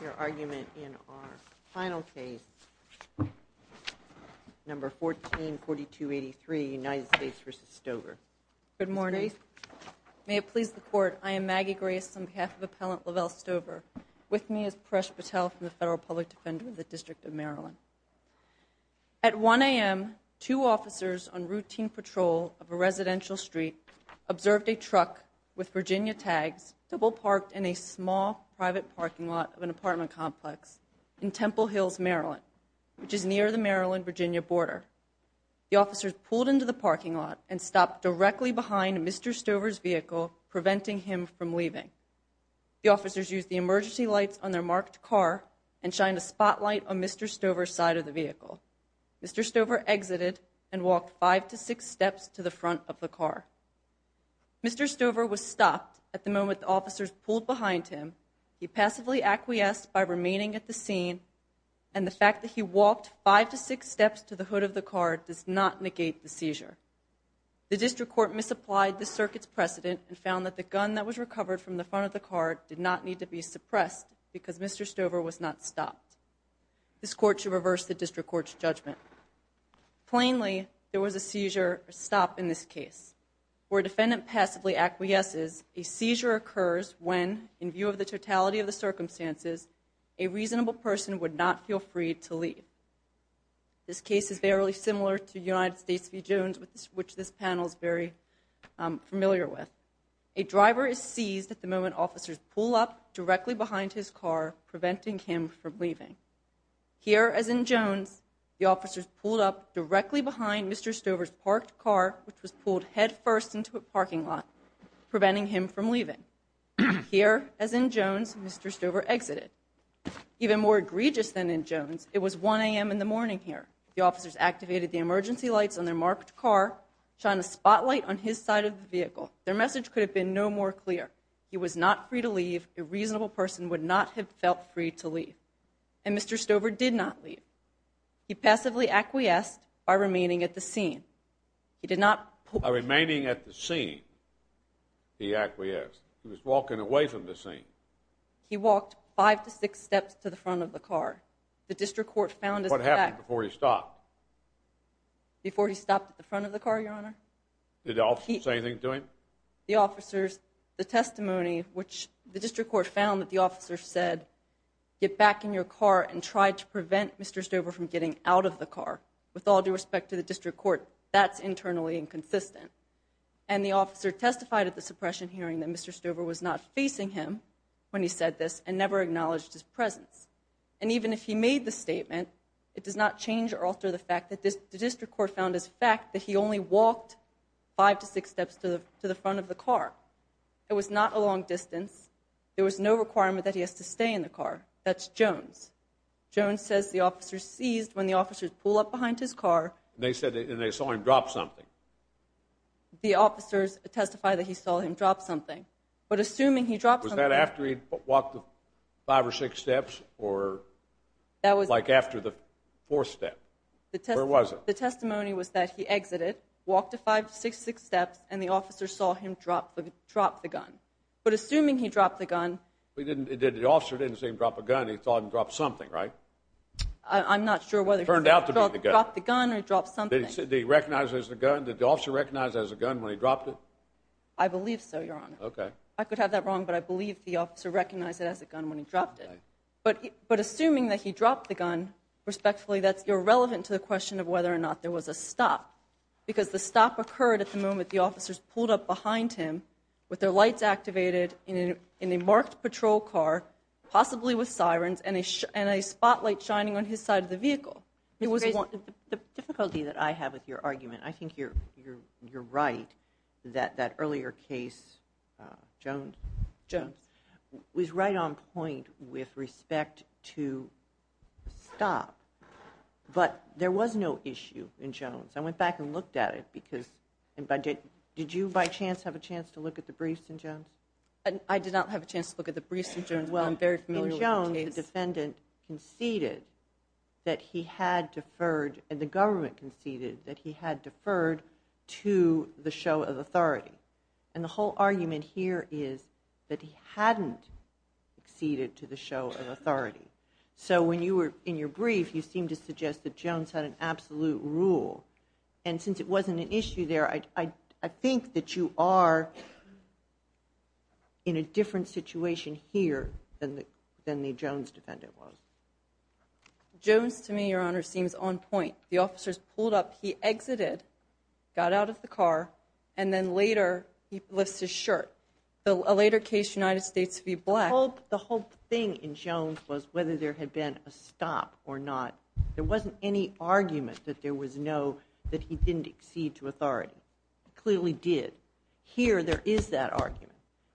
Your argument in our final case, number 144283, United States v. Stover. Good morning. May it please the Court, I am Maggie Grace on behalf of Appellant Lavelle Stover. With me is Paresh Patel from the Federal Public Defender of the District of Maryland. At 1 a.m., two officers on routine patrol of a residential street observed a truck with Virginia complex in Temple Hills, Maryland, which is near the Maryland-Virginia border. The officers pulled into the parking lot and stopped directly behind Mr. Stover's vehicle, preventing him from leaving. The officers used the emergency lights on their marked car and shined a spotlight on Mr. Stover's side of the vehicle. Mr. Stover exited and walked five to six steps to the front of the car. Mr. Stover was stopped at the moment the officers pulled behind him. He passively acquiesced by remaining at the scene, and the fact that he walked five to six steps to the hood of the car does not negate the seizure. The District Court misapplied the circuit's precedent and found that the gun that was recovered from the front of the car did not need to be suppressed because Mr. Stover was not stopped. This Court should reverse the District Court's judgment. Plainly, there was a seizure or stop in this case. Where a defendant passively acquiesces, a seizure occurs when, in view of the totality of the circumstances, a reasonable person would not feel free to leave. This case is fairly similar to United States v. Jones, which this panel is very familiar with. A driver is seized at the moment officers pull up directly behind his car, preventing him from leaving. Here, as in Jones, the officers pulled up directly behind Mr. Stover's parked car, which was pulled head first into a parking lot, preventing him from leaving. Here, as in Jones, Mr. Stover exited. Even more egregious than in Jones, it was 1 a.m. in the morning here. The officers activated the emergency lights on their marked car, shone a spotlight on his side of the vehicle. Their message could have been no more clear. He was not free to leave. A reasonable person would not have felt free to leave, and Mr. Stover did not leave. He passively acquiesced by remaining at the scene. He did not... By remaining at the scene, he acquiesced. He was walking away from the scene. He walked five to six steps to the front of the car. The district court found... What happened before he stopped? Before he stopped at the front of the car, your honor? Did the officers say anything to him? The officers, the testimony, which the district court found that the officers said, get back in your car and try to prevent Mr. Stover from getting out of the car, with all due respect to the district court, that's internally inconsistent. And the officer testified at the suppression hearing that Mr. Stover was not facing him when he said this and never acknowledged his presence. And even if he made the statement, it does not change or alter the fact that the district court found as a fact that he only walked five to six steps to the front of the car. It was not a long distance. There was no requirement that he has to stay in the car. That's Jones. Jones says the officer seized when the officers pull up behind his car. And they said, and they saw him drop something. The officers testify that he saw him drop something. But assuming he dropped something... Was that after he'd walked five or six steps or... That was... Like after the fourth step? Where was it? The testimony was that he exited, walked five to six steps, and the officer saw him drop the gun. But assuming he dropped the gun... The officer didn't see him drop a gun. He saw him drop something, right? I'm not sure whether he dropped the gun or he dropped something. Did he recognize it as a gun? Did the officer recognize it as a gun when he dropped it? I believe so, Your Honor. Okay. I could have that wrong, but I believe the officer recognized it as a gun when he dropped it. But assuming that he dropped the gun, respectfully, that's irrelevant to the question of whether or not there was a stop. Because the stop occurred at the moment the officers pulled up behind him with their lights activated in a marked patrol car, possibly with sirens, and a spotlight shining on his side of the vehicle. The difficulty that I have with your argument, I think you're right that that earlier case, Jones, was right on point with respect to stop. But there was no issue in Jones. I went back and looked at it. Did you, by chance, have a chance to look at the briefs in Jones? I did not have a chance to look at the briefs in Jones. Well, I'm very familiar with the case. In Jones, the defendant conceded that he had deferred, and the government conceded that he had deferred to the show of authority. And the whole argument here is that he hadn't conceded to the show of authority. So when you were in your brief, you seemed to suggest that since it wasn't an issue there, I think that you are in a different situation here than the Jones defendant was. Jones, to me, your honor, seems on point. The officers pulled up, he exited, got out of the car, and then later he lifts his shirt. A later case, United States v. Black. The whole thing in Jones was whether there had been a stop or not. There wasn't any argument that there was no, that he didn't accede to authority. He clearly did. Here, there is that argument.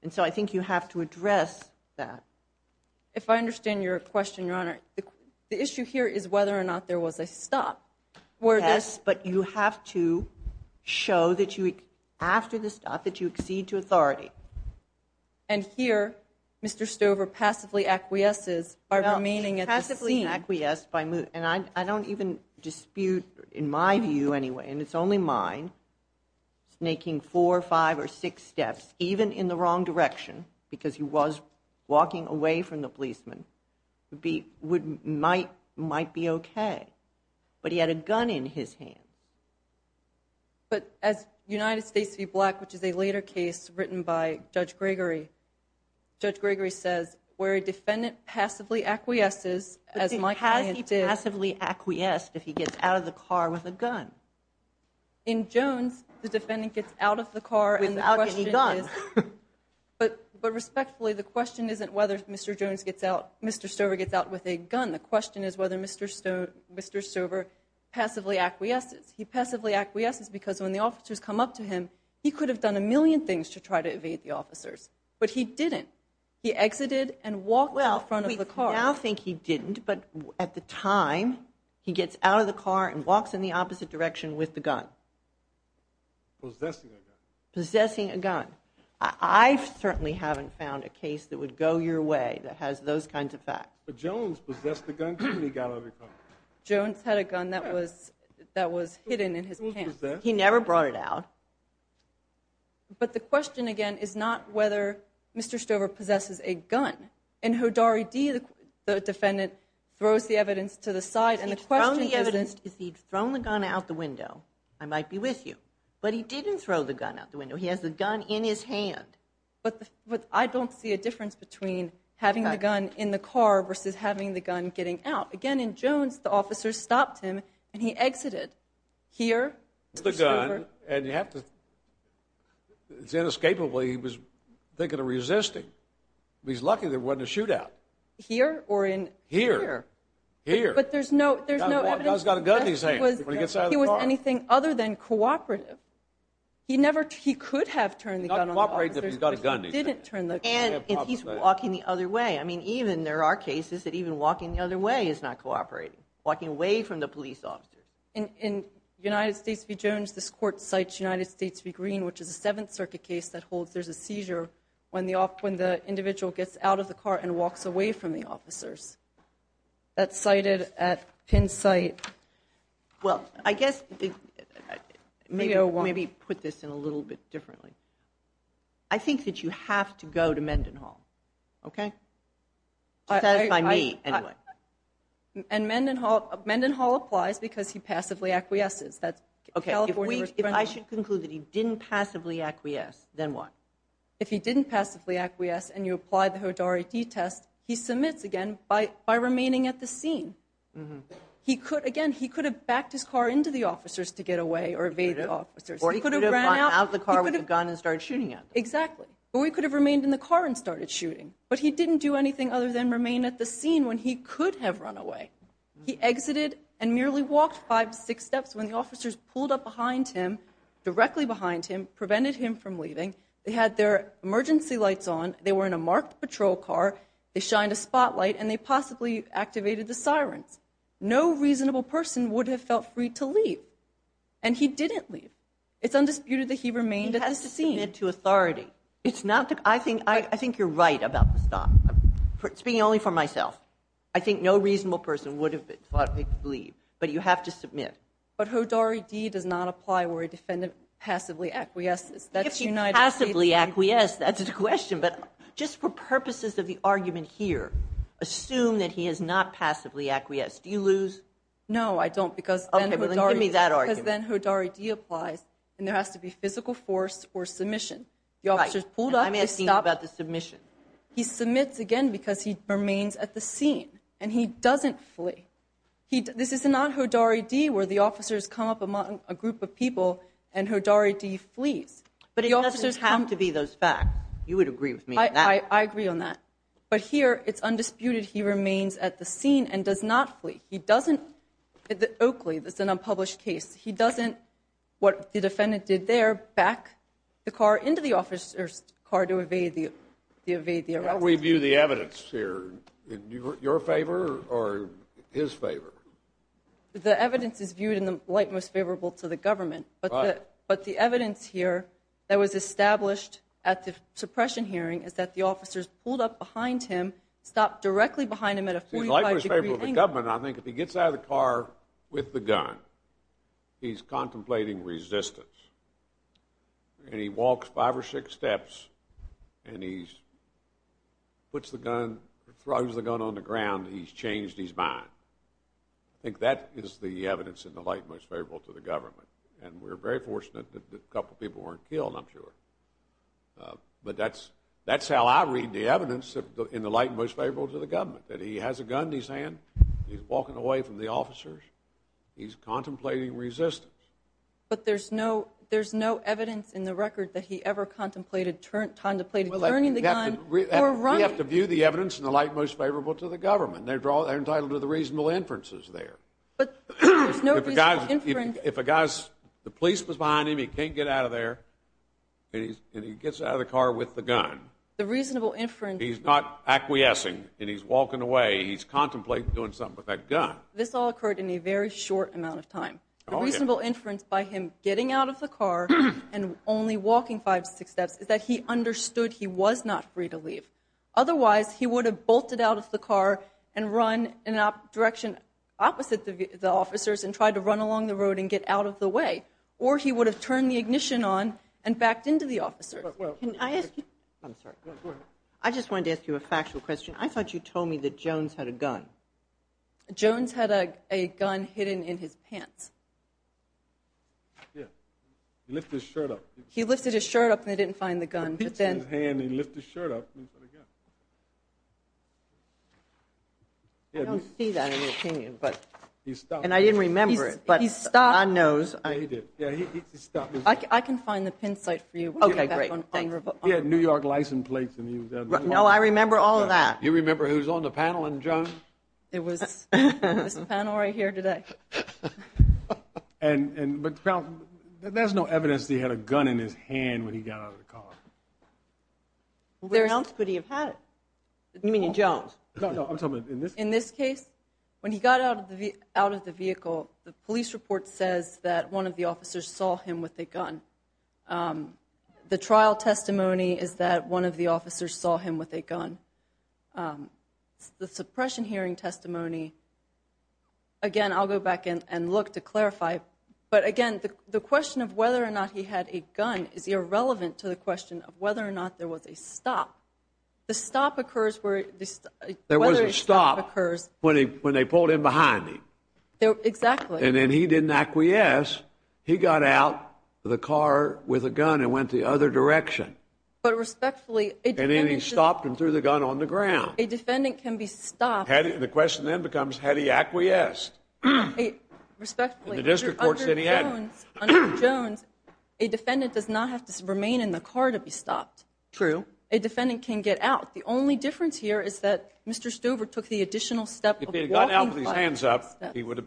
And so I think you have to address that. If I understand your question, your honor, the issue here is whether or not there was a stop. Yes, but you have to show that you, after the stop, that you accede to authority. And here, Mr. Stover passively acquiesces by remaining at the scene. Passively acquiesced. And I don't even dispute, in my view anyway, and it's only mine, snaking four, five, or six steps, even in the wrong direction, because he was walking away from the policeman, might be okay. But he had a gun in his hand. But as United States v. Black, which is a later case written by Judge Gregory, Judge Gregory says, where a defendant passively acquiesces, as my client did. But has he passively acquiesced if he gets out of the car with a gun? In Jones, the defendant gets out of the car and the question is... Without getting a gun. But respectfully, the question isn't whether Mr. Jones gets out, Mr. Stover gets out with a gun. The question is whether Mr. Stover passively acquiesces. He passively acquiesces because when the officers come up to him, he could have done a million things to try to evade the officers. But he didn't. He exited and walked out front of the car. Well, we now think he didn't, but at the time, he gets out of the car and walks in the opposite direction with the gun. Possessing a gun. Possessing a gun. I certainly haven't found a case that would go your way that has those kinds of facts. But Jones possessed a gun when he got out of the car. Jones had a gun that was hidden in his pants. He never brought it out. But the question, again, is not whether Mr. Stover possesses a gun. And Hodari D., the defendant, throws the evidence to the side and the question is... He'd thrown the evidence. If he'd thrown the gun out the window, I might be with you. But he didn't throw the gun out the window. He has the gun in his hand. But I don't see a difference between having the gun in the car versus having the gun getting out. Again, in Jones, the officers stopped him and he exited. Here, Mr. Stover... It's inescapable. He was thinking of resisting. But he's lucky there wasn't a shootout. Here or in... Here. Here. But there's no... The guy's got a gun in his hand when he gets out of the car. If he was anything other than cooperative, he never... He could have turned the gun on the officers... Not cooperating if he's got a gun in his hand. ...but he didn't turn the gun. And if he's walking the other way. I mean, even there are cases that even walking the other way is not cooperating. Walking away from the police officers. In United States v. Jones, this court cites United States v. Green, which is a Seventh Circuit case that holds there's a seizure when the individual gets out of the car and walks away from the officers. That's cited at Penn site. Well, I guess... Maybe put this in a little bit differently. I think that you have to go to Mendenhall. Okay? Satisfy me, anyway. And Mendenhall applies because he passively acquiesces. That's California... If I should conclude that he didn't passively acquiesce, then what? If he didn't passively acquiesce and you apply the Hodari D-test, he submits again by remaining at the scene. Again, he could have backed his car into the officers to get away or evade the officers. Or he could have ran out of the car with a gun and started shooting at them. Exactly. Or he could have remained in the car and started shooting. But he didn't do anything other than remain at the scene when he could have run away. He exited and merely walked five, six steps when the officers pulled up behind him, directly behind him, prevented him from leaving. They had their emergency lights on. They were in a marked patrol car. They shined a spotlight and they possibly activated the sirens. No reasonable person would have felt free to leave. And he didn't leave. It's undisputed that he remained at the scene. He has to submit to authority. I think you're right about the stop. Speaking only for myself, I think no reasonable person would have thought he could leave. But you have to submit. But Hodari D does not apply where a defendant passively acquiesces. If he passively acquiesced, that's a question. But just for purposes of the argument here, assume that he has not passively acquiesced. Do you lose? No, I don't because then Hodari D applies and there has to be physical force or submission. The officers pulled up. I'm asking you about the submission. He submits again because he remains at the scene and he doesn't flee. This is not Hodari D where the officers come up among a group of people and Hodari D flees. But it doesn't have to be those facts. You would agree with me on that. I agree on that. But here it's undisputed he remains at the scene and does not flee. He doesn't, Oakley, that's an unpublished case. He doesn't, what the defendant did there, back the car into the officer's car to evade the arrest. How do we view the evidence here? Your favor or his favor? The evidence is viewed in the light most favorable to the government. But the evidence here that was established at the suppression hearing is that the officers pulled up behind him, stopped directly behind him at a 45 degree angle. I think if he gets out of the car with the gun, he's contemplating resistance. And he walks five or six steps and he puts the gun, throws the gun on the ground. He's changed his mind. I think that is the evidence in the light most favorable to the government. And we're very fortunate that a couple of people weren't killed, I'm sure. But that's how I read the evidence in the light most favorable to the government, that he has a gun in his hand. He's walking away from the officers. He's contemplating resistance. But there's no evidence in the record that he ever contemplated turning the gun or running. We have to view the evidence in the light most favorable to the government. They're entitled to the reasonable inferences there. But there's no reasonable inference. If a guy's, the police was behind him, he can't get out of there. And he gets out of the car with the gun. The reasonable inference. He's not acquiescing and he's walking away. He's contemplating doing something with that gun. This all occurred in a very short amount of time. The reasonable inference by him getting out of the car and only walking five, six steps is that he understood he was not free to leave. Otherwise, he would have bolted out of the car and run in a direction opposite the officers and tried to run along the road and get out of the way. Or he would have turned the ignition on and backed into the officers. Can I ask you, I'm sorry. I just wanted to ask you a factual question. I thought you told me that Jones had a gun. Jones had a gun hidden in his pants. Yeah, he lifted his shirt up. He lifted his shirt up and they didn't find the gun. But then he lifted his shirt up. I don't see that in the opinion. But he stopped. And I didn't remember it. But he stopped. I know. He did. Yeah, he stopped. I can find the pin site for you. He had New York license plates. No, I remember all of that. You remember who's on the panel in Jones? It was the panel right here today. And there's no evidence that he had a gun in his hand when he got out of the car. Where else could he have had it? You mean in Jones? In this case, when he got out of the vehicle, the police report says that one of the officers saw him with a gun. The trial testimony is that one of the officers saw him with a gun. The suppression hearing testimony. Again, I'll go back and look to clarify. But again, the question of whether or not he had a gun is irrelevant to the question of whether or not there was a stop. The stop occurs where there was a stop occurs when they pulled him behind him. Exactly. And then he didn't acquiesce. He got out of the car with a gun and went the other direction. But respectfully, And then he stopped and threw the gun on the ground. A defendant can be stopped. The question then becomes, had he acquiesced? Respectfully, The district court said he hadn't. Under Jones, a defendant does not have to remain in the car to be stopped. True. A defendant can get out. The only difference here is that Mr. Stover took the additional step. If he had gotten out with his hands up, he would have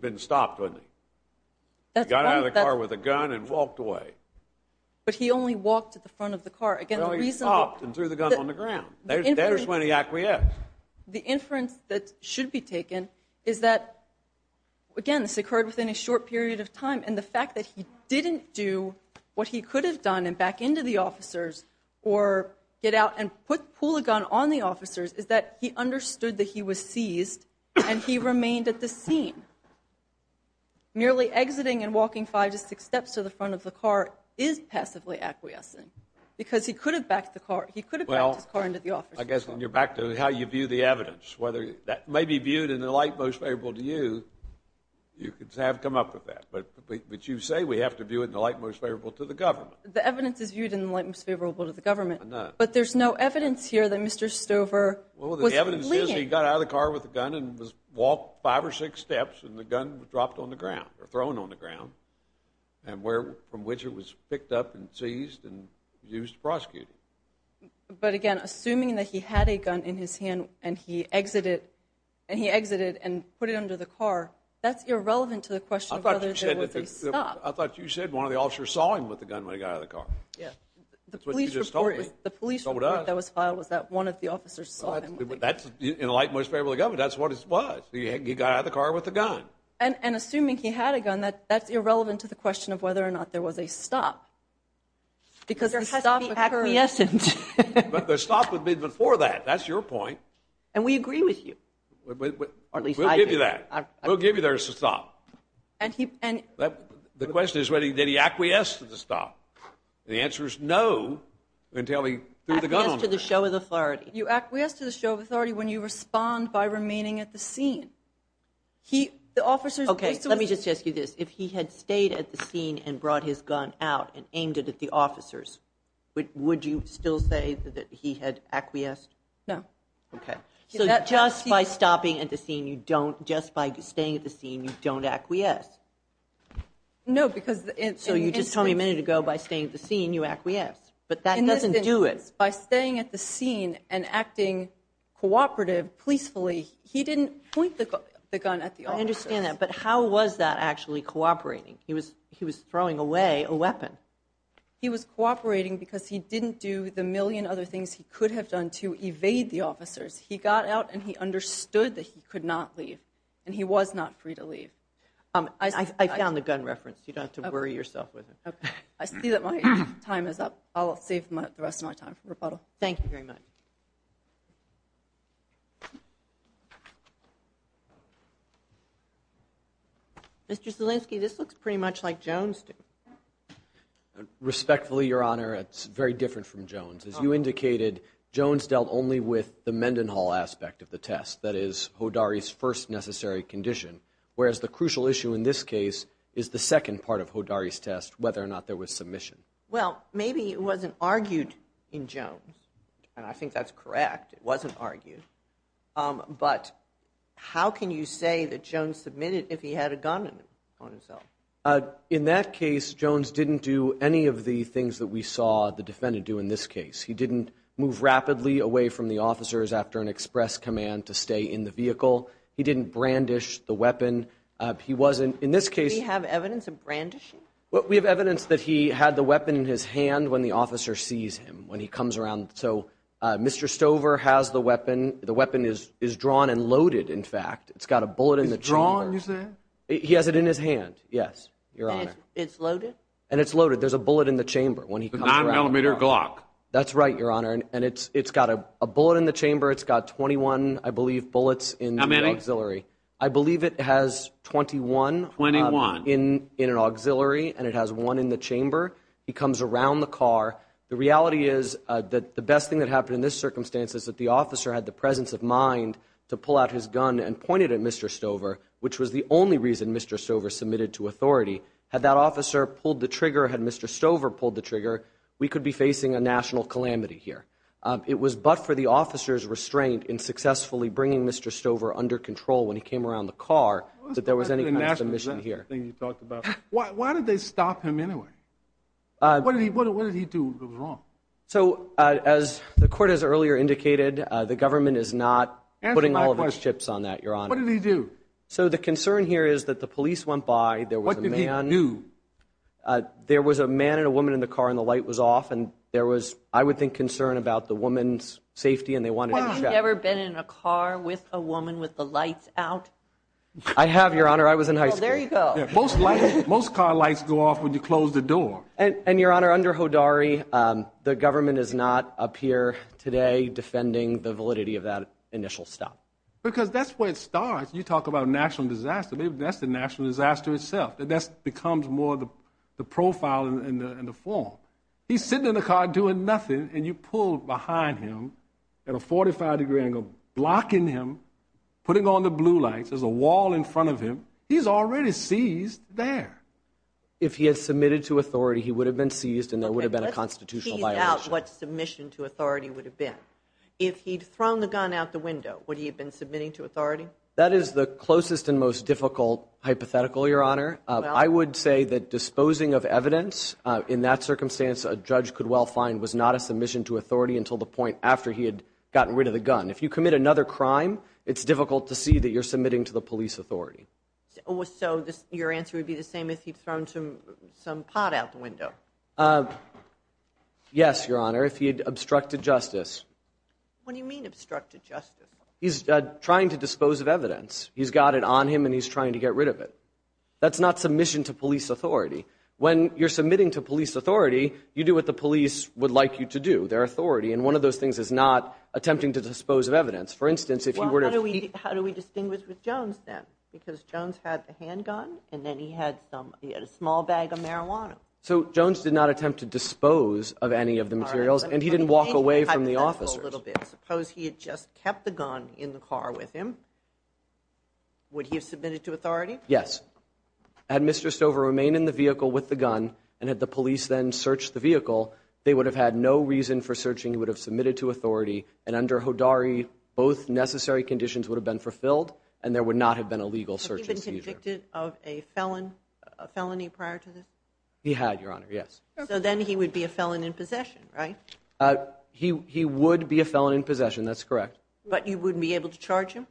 been stopped, wouldn't he? He got out of the car with a gun and walked away. But he only walked to the front of the car. Again, he stopped and threw the gun on the ground. There's when he acquiesced. The inference that should be taken is that, again, this occurred within a short period of time. And the fact that he didn't do what he could have done and back into the officers or get out and pull a gun on the officers is that he understood that he was seized and he remained at the scene. Nearly exiting and walking five to six steps to the front of the car is passively acquiescing because he could have backed the car. He could have backed his car into the officers. Well, I guess when you're back to how you view the evidence, whether that may be viewed in the light most favorable to you, you could have come up with that. But you say we have to view it in the light most favorable to the government. The evidence is viewed in the light most favorable to the government. But there's no evidence here that Mr. Stover was fleeing. Well, the evidence is he got out of the car with a gun and walked five or six steps. And the gun was dropped on the ground or thrown on the ground and from which it was picked up and seized and used to prosecute him. But again, assuming that he had a gun in his hand and he exited and put it under the car, that's irrelevant to the question whether they stopped. I thought you said one of the officers saw him with the gun when he got out of the car. Yeah. That's what you just told me. The police report that was filed was that one of the officers saw him with the gun. That's in the light most favorable to the government. That's what it was. He got out of the car with a gun. And assuming he had a gun, that's irrelevant to the question of whether or not there was a stop. Because there has to be acquiescent. But the stop would be before that. That's your point. And we agree with you. Or at least I do. We'll give you that. We'll give you there's a stop. The question is, did he acquiesce to the stop? The answer is no until he threw the gun on the ground. Acquiesce to the show of authority. You acquiesce to the show of authority when you respond by remaining at the scene. OK. Let me just ask you this. If he had stayed at the scene and brought his gun out and aimed it at the officers, would you still say that he had acquiesced? No. OK. So just by stopping at the scene, you don't. Just by staying at the scene, you don't acquiesce. No. So you just told me a minute ago by staying at the scene, you acquiesce. But that doesn't do it. By staying at the scene and acting cooperative, peacefully, he didn't point the gun at the officers. I understand that. But how was that actually cooperating? He was throwing away a weapon. He was cooperating because he didn't do the million other things he could have done to evade the officers. He got out and he understood that he could not leave. And he was not free to leave. I found the gun reference. You don't have to worry yourself with it. OK. I see that my time is up. I'll save the rest of my time for rebuttal. Thank you very much. Mr. Zielinski, this looks pretty much like Jones did. Respectfully, Your Honor, it's very different from Jones. As you indicated, Jones dealt only with the Mendenhall aspect of the test. That is Hodari's first necessary condition. Whereas the crucial issue in this case is the second part of Hodari's test, whether or not there was submission. Well, maybe it wasn't argued in Jones. And I think that's correct. It wasn't argued. But how can you say that Jones submitted if he had a gun on himself? In that case, Jones didn't do any of the things that we saw the defendant do in this case. He didn't move rapidly away from the officers after an express command to stay in the vehicle. He didn't brandish the weapon. He wasn't, in this case- Do we have evidence of brandishing? Well, we have evidence that he had the weapon in his hand when the officer sees him, when he comes around. So Mr. Stover has the weapon. The weapon is drawn and loaded, in fact. It's got a bullet in the chamber. It's drawn, you said? He has it in his hand. Yes, Your Honor. It's loaded? And it's loaded. There's a bullet in the chamber when he comes around. The 9mm Glock. That's right, Your Honor. And it's got a bullet in the chamber. It's got 21, I believe, bullets in the auxiliary. How many? I believe it has 21- 21. In an auxiliary, and it has one in the chamber. He comes around the car. The reality is that the best thing that happened in this circumstance is that the officer had the presence of mind to pull out his gun and point it at Mr. Stover, which was the only reason Mr. Stover submitted to authority. Had that officer pulled the trigger, had Mr. Stover pulled the trigger, we could be facing a national calamity here. It was but for the officer's restraint in successfully bringing Mr. Stover under control when he came around the car, that there was any kind of submission here. Why did they stop him anyway? What did he do that was wrong? So as the court has earlier indicated, the government is not putting all of its chips on that, Your Honor. What did he do? So the concern here is that the police went by. There was a man- What did he do? There was a man and a woman in the car, and the light was off, and there was, I would think, concern about the woman's safety, and they wanted to check. Have you ever been in a car with a woman with the lights out? I have, Your Honor. I was in high school. Oh, there you go. Most car lights go off when you close the door. And, Your Honor, under Hodari, the government is not up here today defending the validity of that initial stop. Because that's where it starts. You talk about a national disaster, maybe that's the national disaster itself. That becomes more the profile and the form. He's sitting in the car doing nothing, and you pull behind him at a 45-degree angle, blocking him, putting on the blue lights. There's a wall in front of him. He's already seized there. If he had submitted to authority, he would have been seized, and there would have been a constitutional violation. Let's tease out what submission to authority would have been. If he'd thrown the gun out the window, would he have been submitting to authority? That is the closest and most difficult hypothetical, Your Honor. I would say that disposing of evidence in that circumstance a judge could well find was not a submission to authority until the point after he had gotten rid of the gun. If you commit another crime, it's difficult to see that you're submitting to the police authority. So your answer would be the same if he'd thrown some pot out the window? Yes, Your Honor, if he had obstructed justice. What do you mean obstructed justice? He's trying to dispose of evidence. He's got it on him, and he's trying to get rid of it. That's not submission to police authority. When you're submitting to police authority, you do what the police would like you to do, their authority. And one of those things is not attempting to dispose of evidence. For instance, if he were to- How do we distinguish with Jones then? Because Jones had the handgun, and then he had a small bag of marijuana. So Jones did not attempt to dispose of any of the materials, and he didn't walk away from the officers. Suppose he had just kept the gun in the car with him. Would he have submitted to authority? Yes. Had Mr. Stover remained in the vehicle with the gun, and had the police then searched the vehicle, they would have had no reason for searching. He would have submitted to authority, and under Hodari, both necessary conditions would have been fulfilled, and there would not have been a legal search and seizure. Had he been convicted of a felony prior to this? He had, Your Honor, yes. So then he would be a felon in possession, right? He would be a felon in possession, that's correct. But you wouldn't be able to charge him?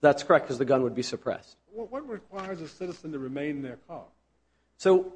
That's correct, because the gun would be suppressed. What requires a citizen to remain in their car? So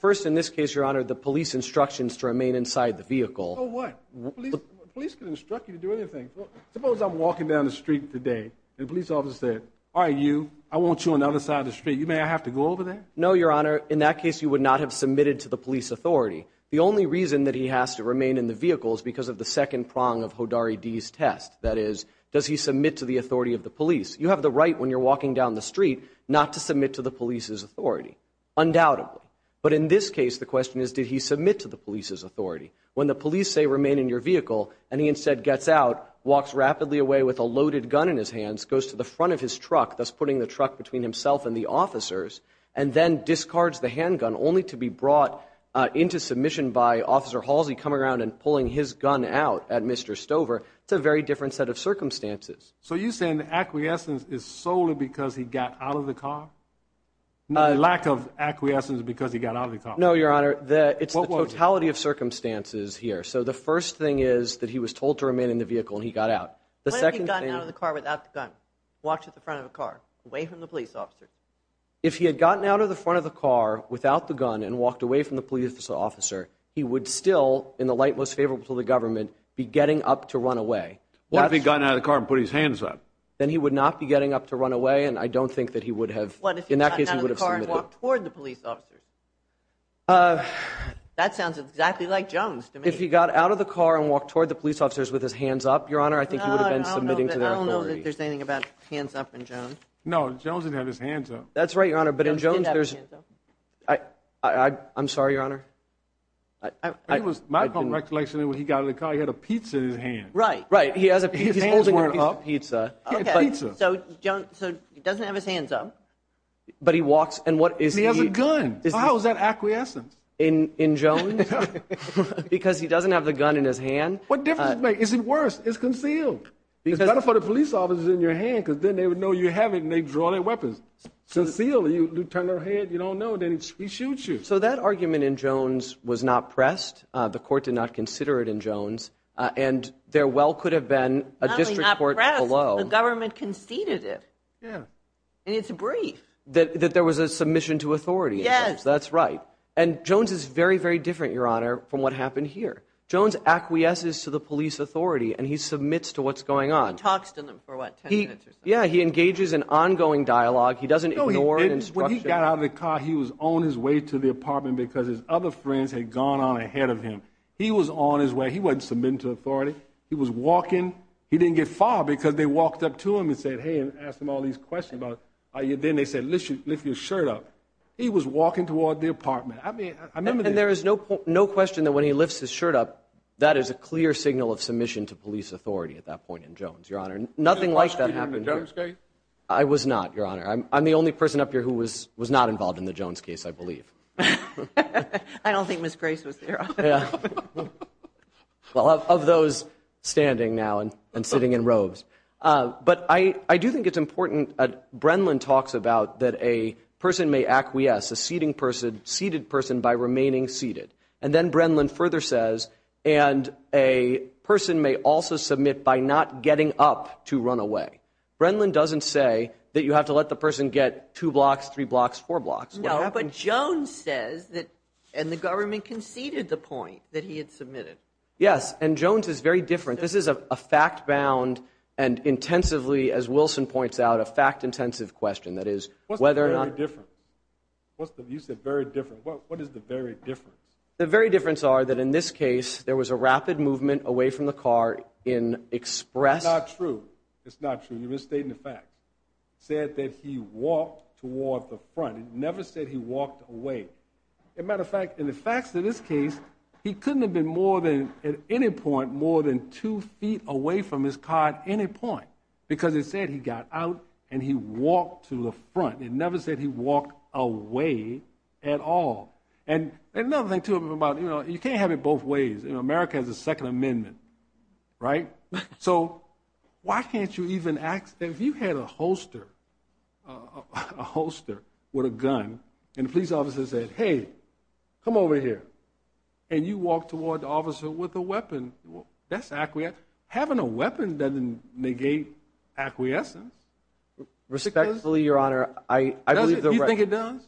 first, in this case, Your Honor, the police instructions to remain inside the vehicle. So what? Police can instruct you to do anything. Suppose I'm walking down the street today, and a police officer said, all right, you, I want you on the other side of the street. You may I have to go over there? No, Your Honor. In that case, you would not have submitted to the police authority. The only reason that he has to remain in the vehicle is because of the second prong of Hodari D's test. That is, does he submit to the authority of the police? You have the right when you're walking down the street not to submit to the police's authority, undoubtedly. But in this case, the question is, did he submit to the police's authority? When the police say, remain in your vehicle, and he instead gets out, walks rapidly away with a loaded gun in his hands, goes to the front of his truck, thus putting the truck between himself and the officers, and then discards the handgun only to be brought into submission by Officer Halsey coming around and pulling his gun out at Mr. Stover, it's a very different set of circumstances. So you're saying the acquiescence is solely because he got out of the car? Lack of acquiescence because he got out of the car? No, Your Honor. It's the totality of circumstances here. So the first thing is that he was told to remain in the vehicle, and he got out. What if he had gotten out of the car without the gun, walked to the front of the car, away from the police officer? If he had gotten out of the front of the car without the gun and walked away from the police officer, he would still, in the light most favorable to the government, be getting up to run away. What if he had gotten out of the car and put his hands up? Then he would not be getting up to run away, and I don't think that he would have, in that case, he would have submitted. What if he had gotten out of the car and walked toward the police officers? That sounds exactly like Jones to me. If he got out of the car and walked toward the police officers with his hands up, Your Honor, I think he would have been submitting to their authority. I don't know that there's anything about hands up in Jones. No, Jones didn't have his hands up. That's right, Your Honor, but in Jones, there's... I'm sorry, Your Honor. It was my recollection that when he got out of the car, he had a pizza in his hand. Right. He's holding a piece of pizza. Okay, so he doesn't have his hands up. But he walks, and what is he... He has a gun. How is that acquiescent? In Jones? Because he doesn't have the gun in his hand. What difference does it make? Is it worse? It's concealed. It's better for the police officers in your hand, because then they would know you have it, and they draw their weapons. Sincerely, Lieutenant, you don't know, then he shoots you. So that argument in Jones was not pressed. The court did not consider it in Jones. And there well could have been a district court below. The government conceded it. Yeah. And it's brief. That there was a submission to authority. Yes. That's right. And Jones is very, very different, Your Honor, from what happened here. Jones acquiesces to the police authority, and he submits to what's going on. He talks to them for, what, 10 minutes or so? Yeah, he engages in ongoing dialogue. He doesn't ignore an instruction. When he got out of the car, he was on his way to the apartment because his other friends had gone on ahead of him. He was on his way. He wasn't submitting to authority. He was walking. He didn't get far because they walked up to him and said, hey, and asked him all these questions about, then they said, lift your shirt up. He was walking toward the apartment. I mean, I remember that. And there is no question that when he lifts his shirt up, that is a clear signal of submission to police authority at that point in Jones, Your Honor. Nothing like that happened here. Were you involved in the Jones case? I'm the only person up here who was not involved in the Jones case, I believe. I don't think Ms. Grace was there. Well, of those standing now and sitting in robes. But I do think it's important. Brenlin talks about that a person may acquiesce, a seated person, by remaining seated. And then Brenlin further says, and a person may also submit by not getting up to run away. Brenlin doesn't say that you have to let the person get two blocks, three blocks, four blocks. But Jones says that, and the government conceded the point that he had submitted. Yes. And Jones is very different. This is a fact-bound and intensively, as Wilson points out, a fact-intensive question. That is, whether or not- What's the very difference? What's the, you said very different. What is the very difference? The very difference are that in this case, there was a rapid movement away from the car in express- It's not true. It's not true. You're misstating the fact. Said that he walked toward the front. It never said he walked away. As a matter of fact, in the facts of this case, he couldn't have been more than, at any point, more than two feet away from his car at any point, because it said he got out and he walked to the front. It never said he walked away at all. And another thing, too, about, you can't have it both ways. America has a Second Amendment, right? So why can't you even ask? If you had a holster, a holster with a gun, and the police officer said, hey, come over here, and you walk toward the officer with a weapon, that's acquiescent. Having a weapon doesn't negate acquiescence. Respectfully, Your Honor, I believe the- You think it does?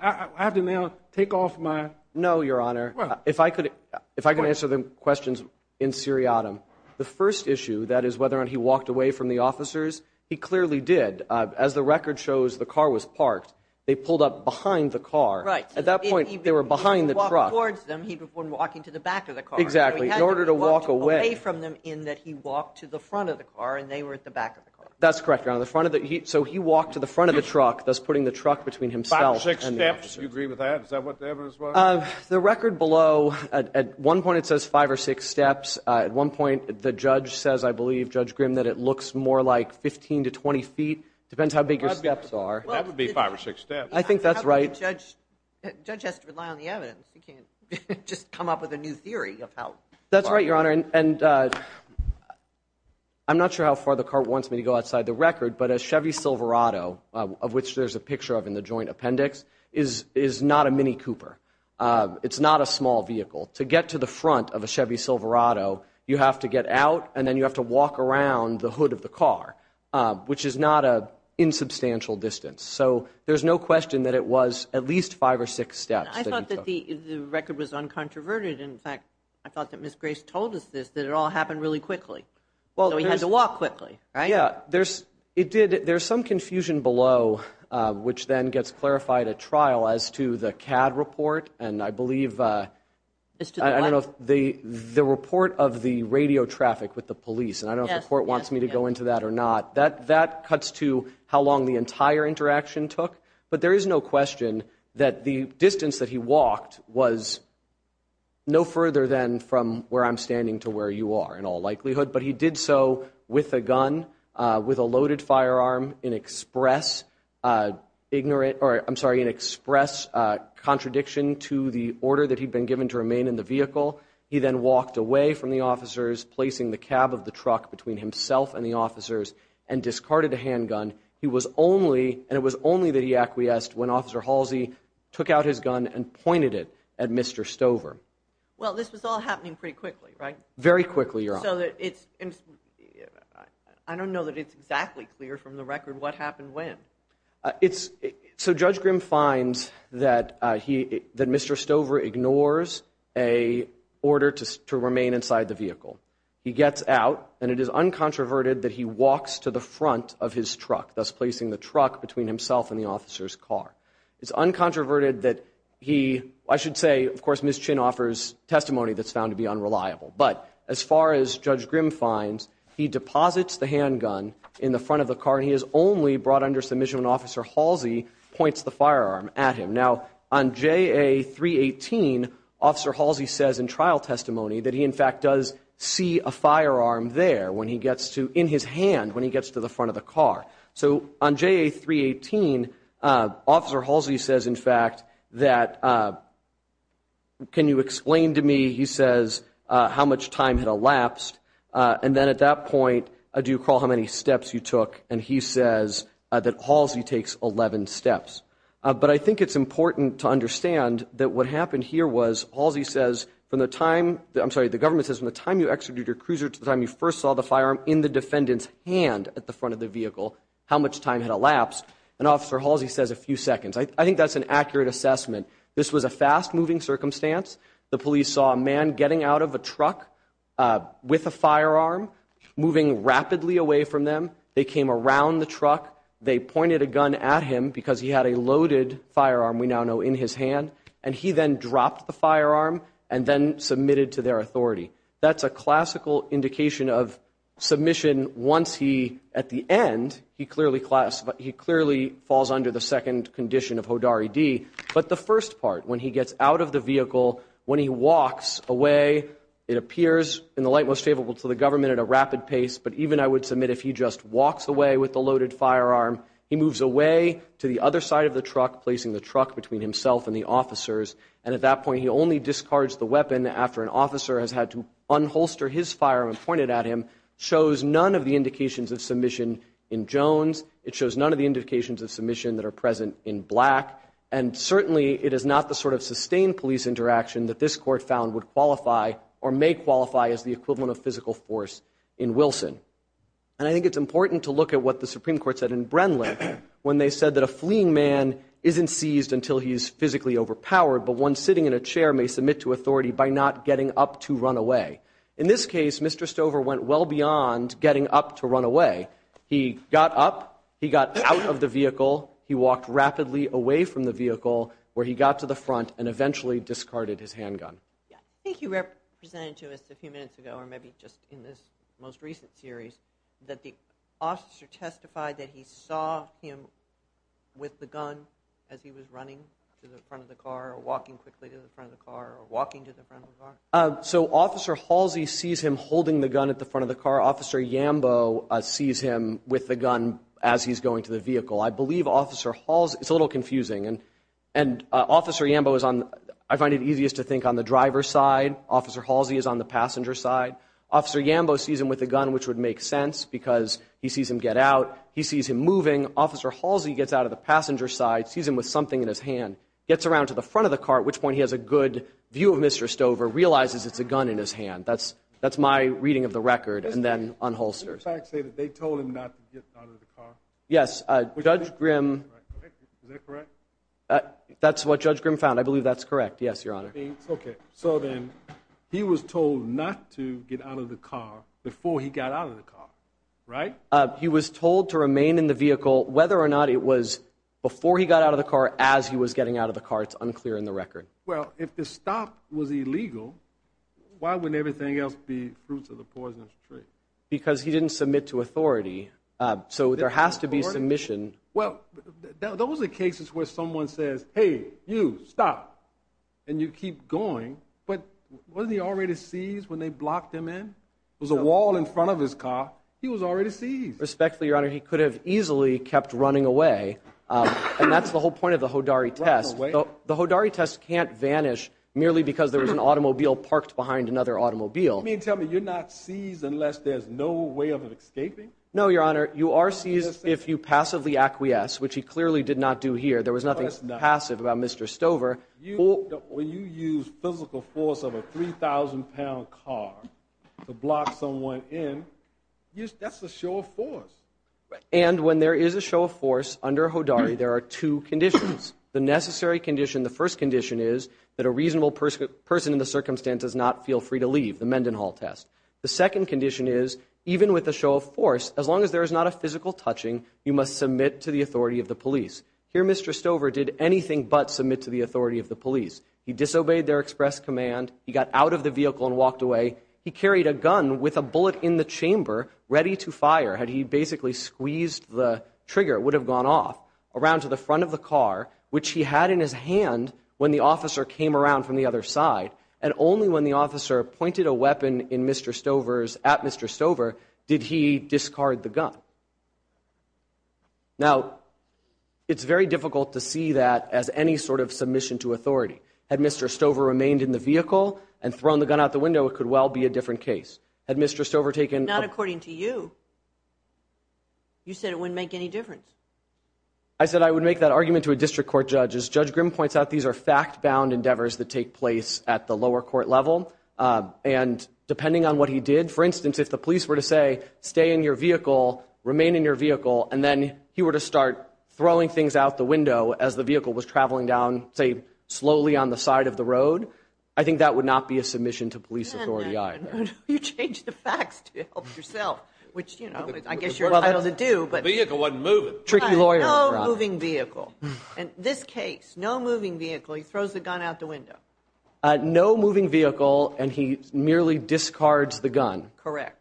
I have to now take off my- No, Your Honor. If I could answer the questions in seriatim, the first issue, that is whether or not he walked away from the officers, he clearly did. As the record shows, the car was parked. They pulled up behind the car. Right. At that point, they were behind the truck. He walked towards them. He was walking to the back of the car. Exactly. In order to walk away- He walked away from them in that he walked to the front of the car, and they were at the back of the car. That's correct, Your Honor. So he walked to the front of the truck, thus putting the truck between himself and the officer. Do you agree with that? Is that what the evidence was? The record below, at one point, it says five or six steps. At one point, the judge says, I believe, Judge Grimm, that it looks more like 15 to 20 feet. It depends how big your steps are. That would be five or six steps. I think that's right. Judge has to rely on the evidence. He can't just come up with a new theory of how- That's right, Your Honor. And I'm not sure how far the court wants me to go outside the record, but a Chevy Silverado, of which there's a picture of in the joint appendix, is not a Mini Cooper. It's not a small vehicle. To get to the front of a Chevy Silverado, you have to get out, and then you have to walk around the hood of the car, which is not an insubstantial distance. So there's no question that it was at least five or six steps that he took. And I thought that the record was uncontroverted. In fact, I thought that Ms. Grace told us this, that it all happened really quickly. Well, there's- So he had to walk quickly, right? Yeah, there's some confusion below, which then gets clarified at trial as to the CAD report, and I believe- As to the what? I don't know if the report of the radio traffic with the police, and I don't know if the court wants me to go into that or not. That cuts to how long the entire interaction took. But there is no question that the distance that he walked was no further than from where I'm standing to where you are, in all likelihood. But he did so with a gun, with a loaded firearm, in express ignorant- to the order that he'd been given to remain in the vehicle. He then walked away from the officers, placing the cab of the truck between himself and the officers, and discarded a handgun. He was only- And it was only that he acquiesced when Officer Halsey took out his gun and pointed it at Mr. Stover. Well, this was all happening pretty quickly, right? Very quickly, Your Honor. So that it's- I don't know that it's exactly clear from the record what happened when. It's- So Judge Grimm finds that he- that Mr. Stover ignores a order to remain inside the vehicle. He gets out, and it is uncontroverted that he walks to the front of his truck, thus placing the truck between himself and the officer's car. It's uncontroverted that he- I should say, of course, Ms. Chin offers testimony that's found to be unreliable. But as far as Judge Grimm finds, he deposits the handgun in the front of the car, and he is only brought under submission when Officer Halsey points the firearm at him. Now, on JA-318, Officer Halsey says in trial testimony that he, in fact, does see a firearm there when he gets to- in his hand when he gets to the front of the car. So on JA-318, Officer Halsey says, in fact, that, can you explain to me, he says, how much time had elapsed. And then at that point, do you recall how many steps you took? And he says that Halsey takes 11 steps. But I think it's important to understand that what happened here was, Halsey says, from the time- I'm sorry, the government says from the time you executed your cruiser to the time you first saw the firearm in the defendant's hand at the front of the vehicle, how much time had elapsed. And Officer Halsey says a few seconds. I think that's an accurate assessment. This was a fast-moving circumstance. The police saw a man getting out of a truck with a firearm, moving rapidly away from them. They came around the truck. They pointed a gun at him because he had a loaded firearm, we now know, in his hand. And he then dropped the firearm and then submitted to their authority. That's a classical indication of submission once he, at the end, he clearly falls under the second condition of Hodari D. But the first part, when he gets out of the vehicle, when he walks away, it appears in the light most favorable to the government at a rapid pace, but even I would submit if he just walks away with the loaded firearm, he moves away to the other side of the truck, placing the truck between himself and the officers. And at that point, he only discards the weapon after an officer has had to unholster his firearm and point it at him, shows none of the indications of submission in Jones. It shows none of the indications of submission that are present in Black. And certainly, it is not the sort of sustained police interaction that this court found would qualify or may qualify as the equivalent of physical force in Wilson. And I think it's important to look at what the Supreme Court said in Brenlin when they said that a fleeing man isn't seized until he's physically overpowered, but one sitting in a chair may submit to authority by not getting up to run away. In this case, Mr. Stover went well beyond getting up to run away. He got up. He got out of the vehicle. He walked rapidly away from the vehicle where he got to the front and eventually discarded his handgun. Yeah, I think you represented to us a few minutes ago or maybe just in this most recent series that the officer testified that he saw him with the gun as he was running to the front of the car or walking quickly to the front of the car or walking to the front of the car. So Officer Halsey sees him holding the gun at the front of the car. Officer Yambo sees him with the gun as he's going to the vehicle. I believe Officer Halsey, it's a little confusing, and Officer Yambo is on, I find it easiest to think on the driver's side. Officer Halsey is on the passenger side. Officer Yambo sees him with the gun, which would make sense because he sees him get out. He sees him moving. Officer Halsey gets out of the passenger side, sees him with something in his hand, gets around to the front of the car, at which point he has a good view of Mr. Stover, realizes it's a gun in his hand. That's my reading of the record. And then on holster. Did the facts say that they told him not to get out of the car? Yes. Judge Grimm. Is that correct? That's what Judge Grimm found. I believe that's correct. Yes, Your Honor. Okay. So then he was told not to get out of the car before he got out of the car, right? He was told to remain in the vehicle whether or not it was before he got out of the car as he was getting out of the car. It's unclear in the record. Well, if the stop was illegal, why wouldn't everything else be fruits of the poisonous tree? Because he didn't submit to authority. So there has to be submission. Well, those are cases where someone says, hey, you stop and you keep going. But wasn't he already seized when they blocked him in? It was a wall in front of his car. He was already seized. Respectfully, Your Honor, he could have easily kept running away. And that's the whole point of the Hodari test. The Hodari test can't vanish merely because there was an automobile parked behind another automobile. You mean to tell me you're not seized unless there's no way of escaping? No, Your Honor. You are seized if you passively acquiesce, which he clearly did not do here. There was nothing passive about Mr. Stover. When you use physical force of a 3,000-pound car to block someone in, that's a show of force. And when there is a show of force under Hodari, there are two conditions. The necessary condition, the first condition is that a reasonable person in the circumstance does not feel free to leave, the Mendenhall test. The second condition is even with a show of force, as long as there is not a physical touching, you must submit to the authority of the police. Here, Mr. Stover did anything but submit to the authority of the police. He disobeyed their express command. He got out of the vehicle and walked away. He carried a gun with a bullet in the chamber ready to fire. Had he basically squeezed the trigger, it would have gone off around to the front of the car, which he had in his hand when the officer came around from the other side. And only when the officer pointed a weapon at Mr. Stover did he discard the gun. Now, it's very difficult to see that as any sort of submission to authority. Had Mr. Stover remained in the vehicle and thrown the gun out the window, it could well be a different case. Had Mr. Stover taken— Not according to you. You said it wouldn't make any difference. I said I would make that argument to a district court judge. As Judge Grimm points out, these are fact-bound endeavors that take place at the lower court level. And depending on what he did, for instance, if the police were to say, stay in your vehicle, remain in your vehicle, and then he were to start throwing things out the window as the vehicle was traveling down, say, slowly on the side of the road, I think that would not be a submission to police authority either. You changed the facts to help yourself, which, you know, I guess you're entitled to do. Vehicle wasn't moving. Tricky lawyer, Rob. No moving vehicle. In this case, no moving vehicle. He throws the gun out the window. No moving vehicle, and he merely discards the gun. Correct.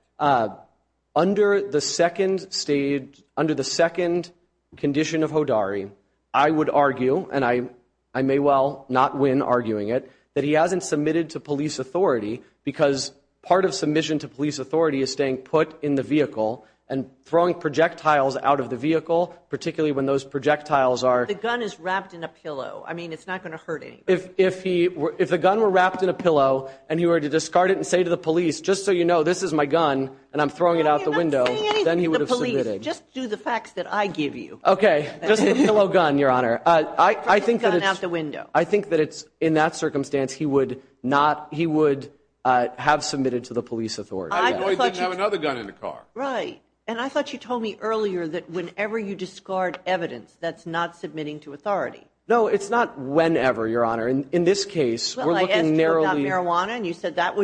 Under the second condition of Hodari, I would argue, and I may well not win arguing it, that he hasn't submitted to police authority because part of submission to police authority is staying put in the vehicle and throwing projectiles out of the vehicle, particularly when those projectiles are... The gun is wrapped in a pillow. I mean, it's not going to hurt anybody. If the gun were wrapped in a pillow, and he were to discard it and say to the police, just so you know, this is my gun, and I'm throwing it out the window, then he would have submitted. Just do the facts that I give you. Okay. Just the pillow gun, Your Honor. I think that in that circumstance, he would have submitted to the police authority. Or he didn't have another gun in the car. Right. And I thought you told me earlier that whenever you discard evidence, that's not submitting to authority. No, it's not whenever, Your Honor. In this case, we're looking narrowly... Well, I asked you about marijuana, and you said that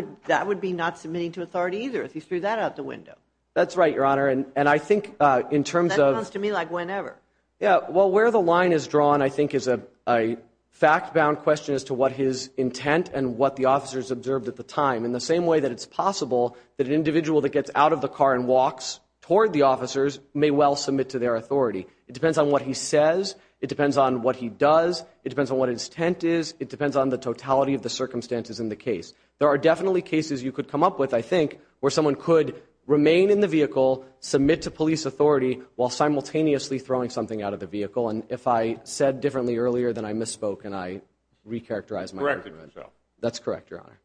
would be not submitting to authority either if he threw that out the window. That's right, Your Honor. And I think in terms of... That sounds to me like whenever. Yeah. Well, where the line is drawn, I think, is a fact-bound question as to what his intent and what the officers observed at the time, in the same way that it's possible that an individual that gets out of the car and walks toward the officers may well submit to their authority. It depends on what he says. It depends on what he does. It depends on what his intent is. It depends on the totality of the circumstances in the case. There are definitely cases you could come up with, I think, where someone could remain in the vehicle, submit to police authority, while simultaneously throwing something out of the vehicle. And if I said differently earlier than I misspoke and I recharacterized my argument... That's correct, Your Honor.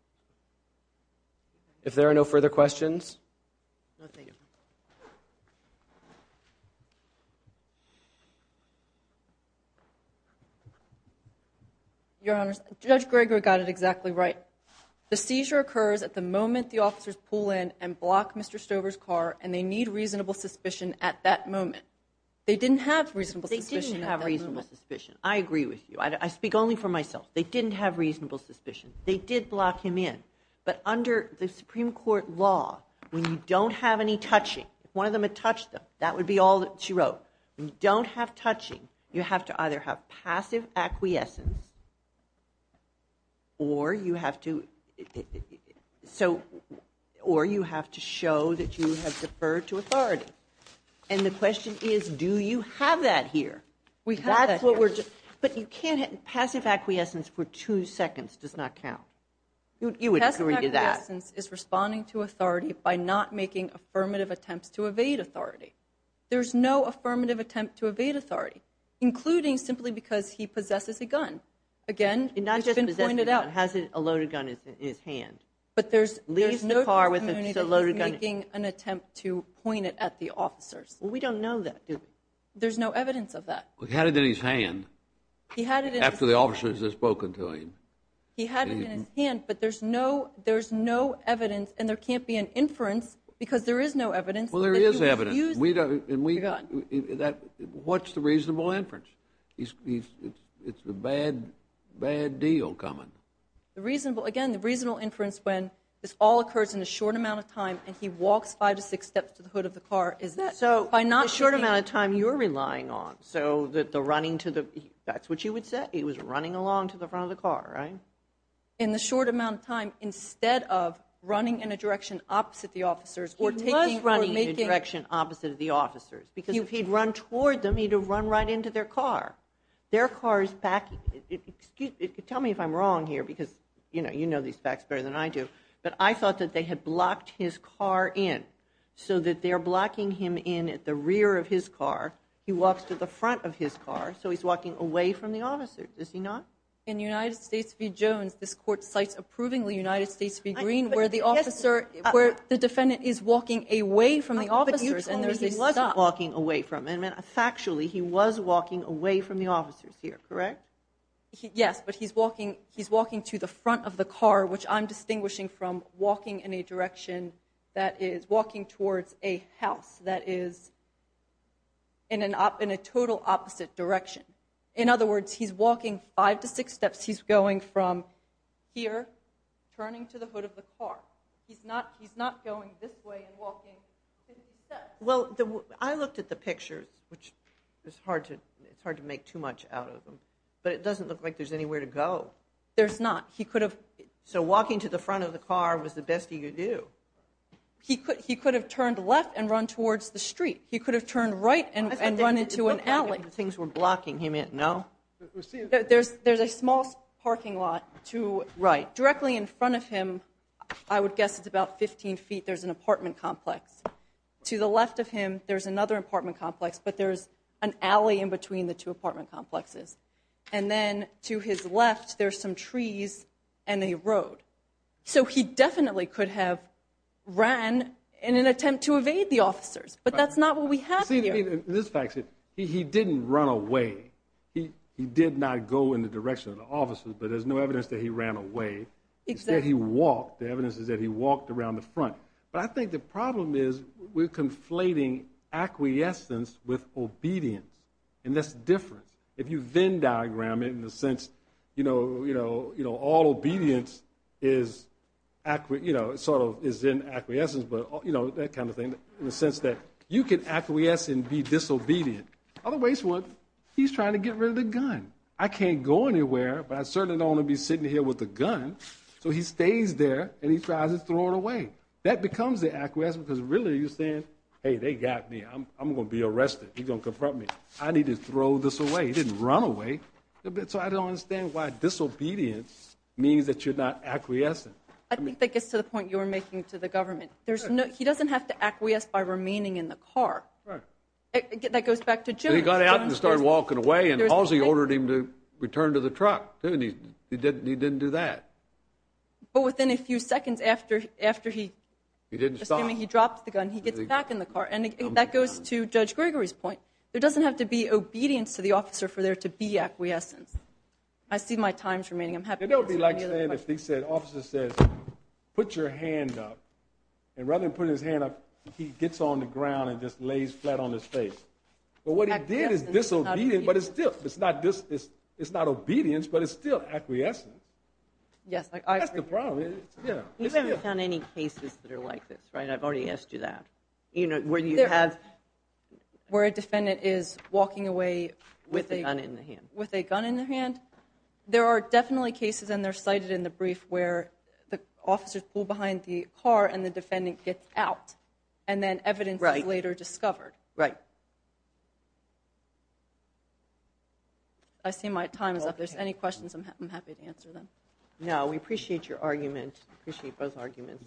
If there are no further questions... Your Honors, Judge Gregor got it exactly right. The seizure occurs at the moment the officers pull in and block Mr. Stover's car, and they need reasonable suspicion at that moment. They didn't have reasonable suspicion at that moment. They didn't have reasonable suspicion. I agree with you. I speak only for myself. They didn't have reasonable suspicion. They did block him in. But under the Supreme Court law, when you don't have any touching, if one of them had touched them, that would be all that she wrote. When you don't have touching, you have to either have passive acquiescence or you have to show that you have deferred to authority. And the question is, do you have that here? That's what we're just... But you can't... Passive acquiescence for two seconds does not count. You would agree to that. Passive acquiescence is responding to authority by not making affirmative attempts to evade authority. There's no affirmative attempt to evade authority, including simply because he possesses a gun. Again, it's been pointed out. He not just possesses a gun, he has a loaded gun in his hand. But there's no community making an attempt to point it at the officers. Well, we don't know that, do we? There's no evidence of that. He had it in his hand after the officers had spoken to him. He had it in his hand, but there's no evidence and there can't be an inference because there is no evidence. Well, there is evidence. What's the reasonable inference? It's the bad deal coming. Again, the reasonable inference when this all occurs in a short amount of time and he walks five to six steps to the hood of the car is that. Short amount of time you're relying on. That's what you would say. He was running along to the front of the car, right? In the short amount of time instead of running in a direction opposite the officers. He was running in a direction opposite of the officers because if he'd run toward them, he'd have run right into their car. Tell me if I'm wrong here because you know these facts better than I do, but I thought that they had blocked his car in so that they're blocking him in at the rear of his car. He walks to the front of his car, so he's walking away from the officers. Is he not? In United States v. Jones, this court cites approvingly United States v. Green where the officer, where the defendant is walking away from the officers and there's a stop. He wasn't walking away from them. Factually, he was walking away from the officers here, correct? Yes, but he's walking to the front of the car which I'm distinguishing from walking in a direction that is walking towards a house that is in a total opposite direction. In other words, he's walking five to six steps. He's going from here, turning to the hood of the car. He's not going this way and walking. Well, I looked at the pictures, which it's hard to make too much out of them, but it doesn't look like there's anywhere to go. There's not. He could have. So walking to the front of the car was the best he could do. He could have turned left and run towards the street. He could have turned right and run into an alley. Things were blocking him in, no? There's a small parking lot to, directly in front of him, I would guess it's about 15 feet, there's an apartment complex. To the left of him, there's another apartment complex, but there's an alley in between the two apartment complexes. And then to his left, there's some trees and a road. So he definitely could have ran in an attempt to evade the officers, but that's not what we have here. In this fact, he didn't run away. He did not go in the direction of the officers, but there's no evidence that he ran away. Instead, he walked. The evidence is that he walked around the front. But I think the problem is we're conflating acquiescence with obedience, and that's different. If you Venn diagram it, in the sense, all obedience is in acquiescence, but that kind of thing, in the sense that you can acquiesce and be disobedient. Otherwise, he's trying to get rid of the gun. I can't go anywhere, but I certainly don't want to be sitting here with a gun. So he stays there, and he tries to throw it away. That becomes the acquiescence, because really, you're saying, hey, they got me. I'm going to be arrested. He's going to confront me. I need to throw this away. He didn't run away. So I don't understand why disobedience means that you're not acquiescent. I think that gets to the point you were making to the government. He doesn't have to acquiesce by remaining in the car. That goes back to Jim. He got out and started walking away, and Halsey ordered him to return to the truck, too. And he didn't do that. But within a few seconds after he dropped the gun, he gets back in the car. And that goes to Judge Gregory's point. There doesn't have to be obedience to the officer for there to be acquiescence. I see my time's remaining. I'm happy to answer any other questions. It would be like saying if the officer says, put your hand up, and rather than putting his hand up, he gets on the ground and just lays flat on his face. But what he did is disobedient, but it's still. It's not obedience, but it's still acquiescence. Yes, I agree. That's the problem. We haven't found any cases that are like this, right? I've already asked you that. Where you have- Where a defendant is walking away- With a gun in the hand. With a gun in the hand. There are definitely cases, and they're cited in the brief, where the officers pull behind the car and the defendant gets out, and then evidence is later discovered. Right. I see my time is up. If there's any questions, I'm happy to answer them. No, we appreciate your argument. Appreciate both arguments.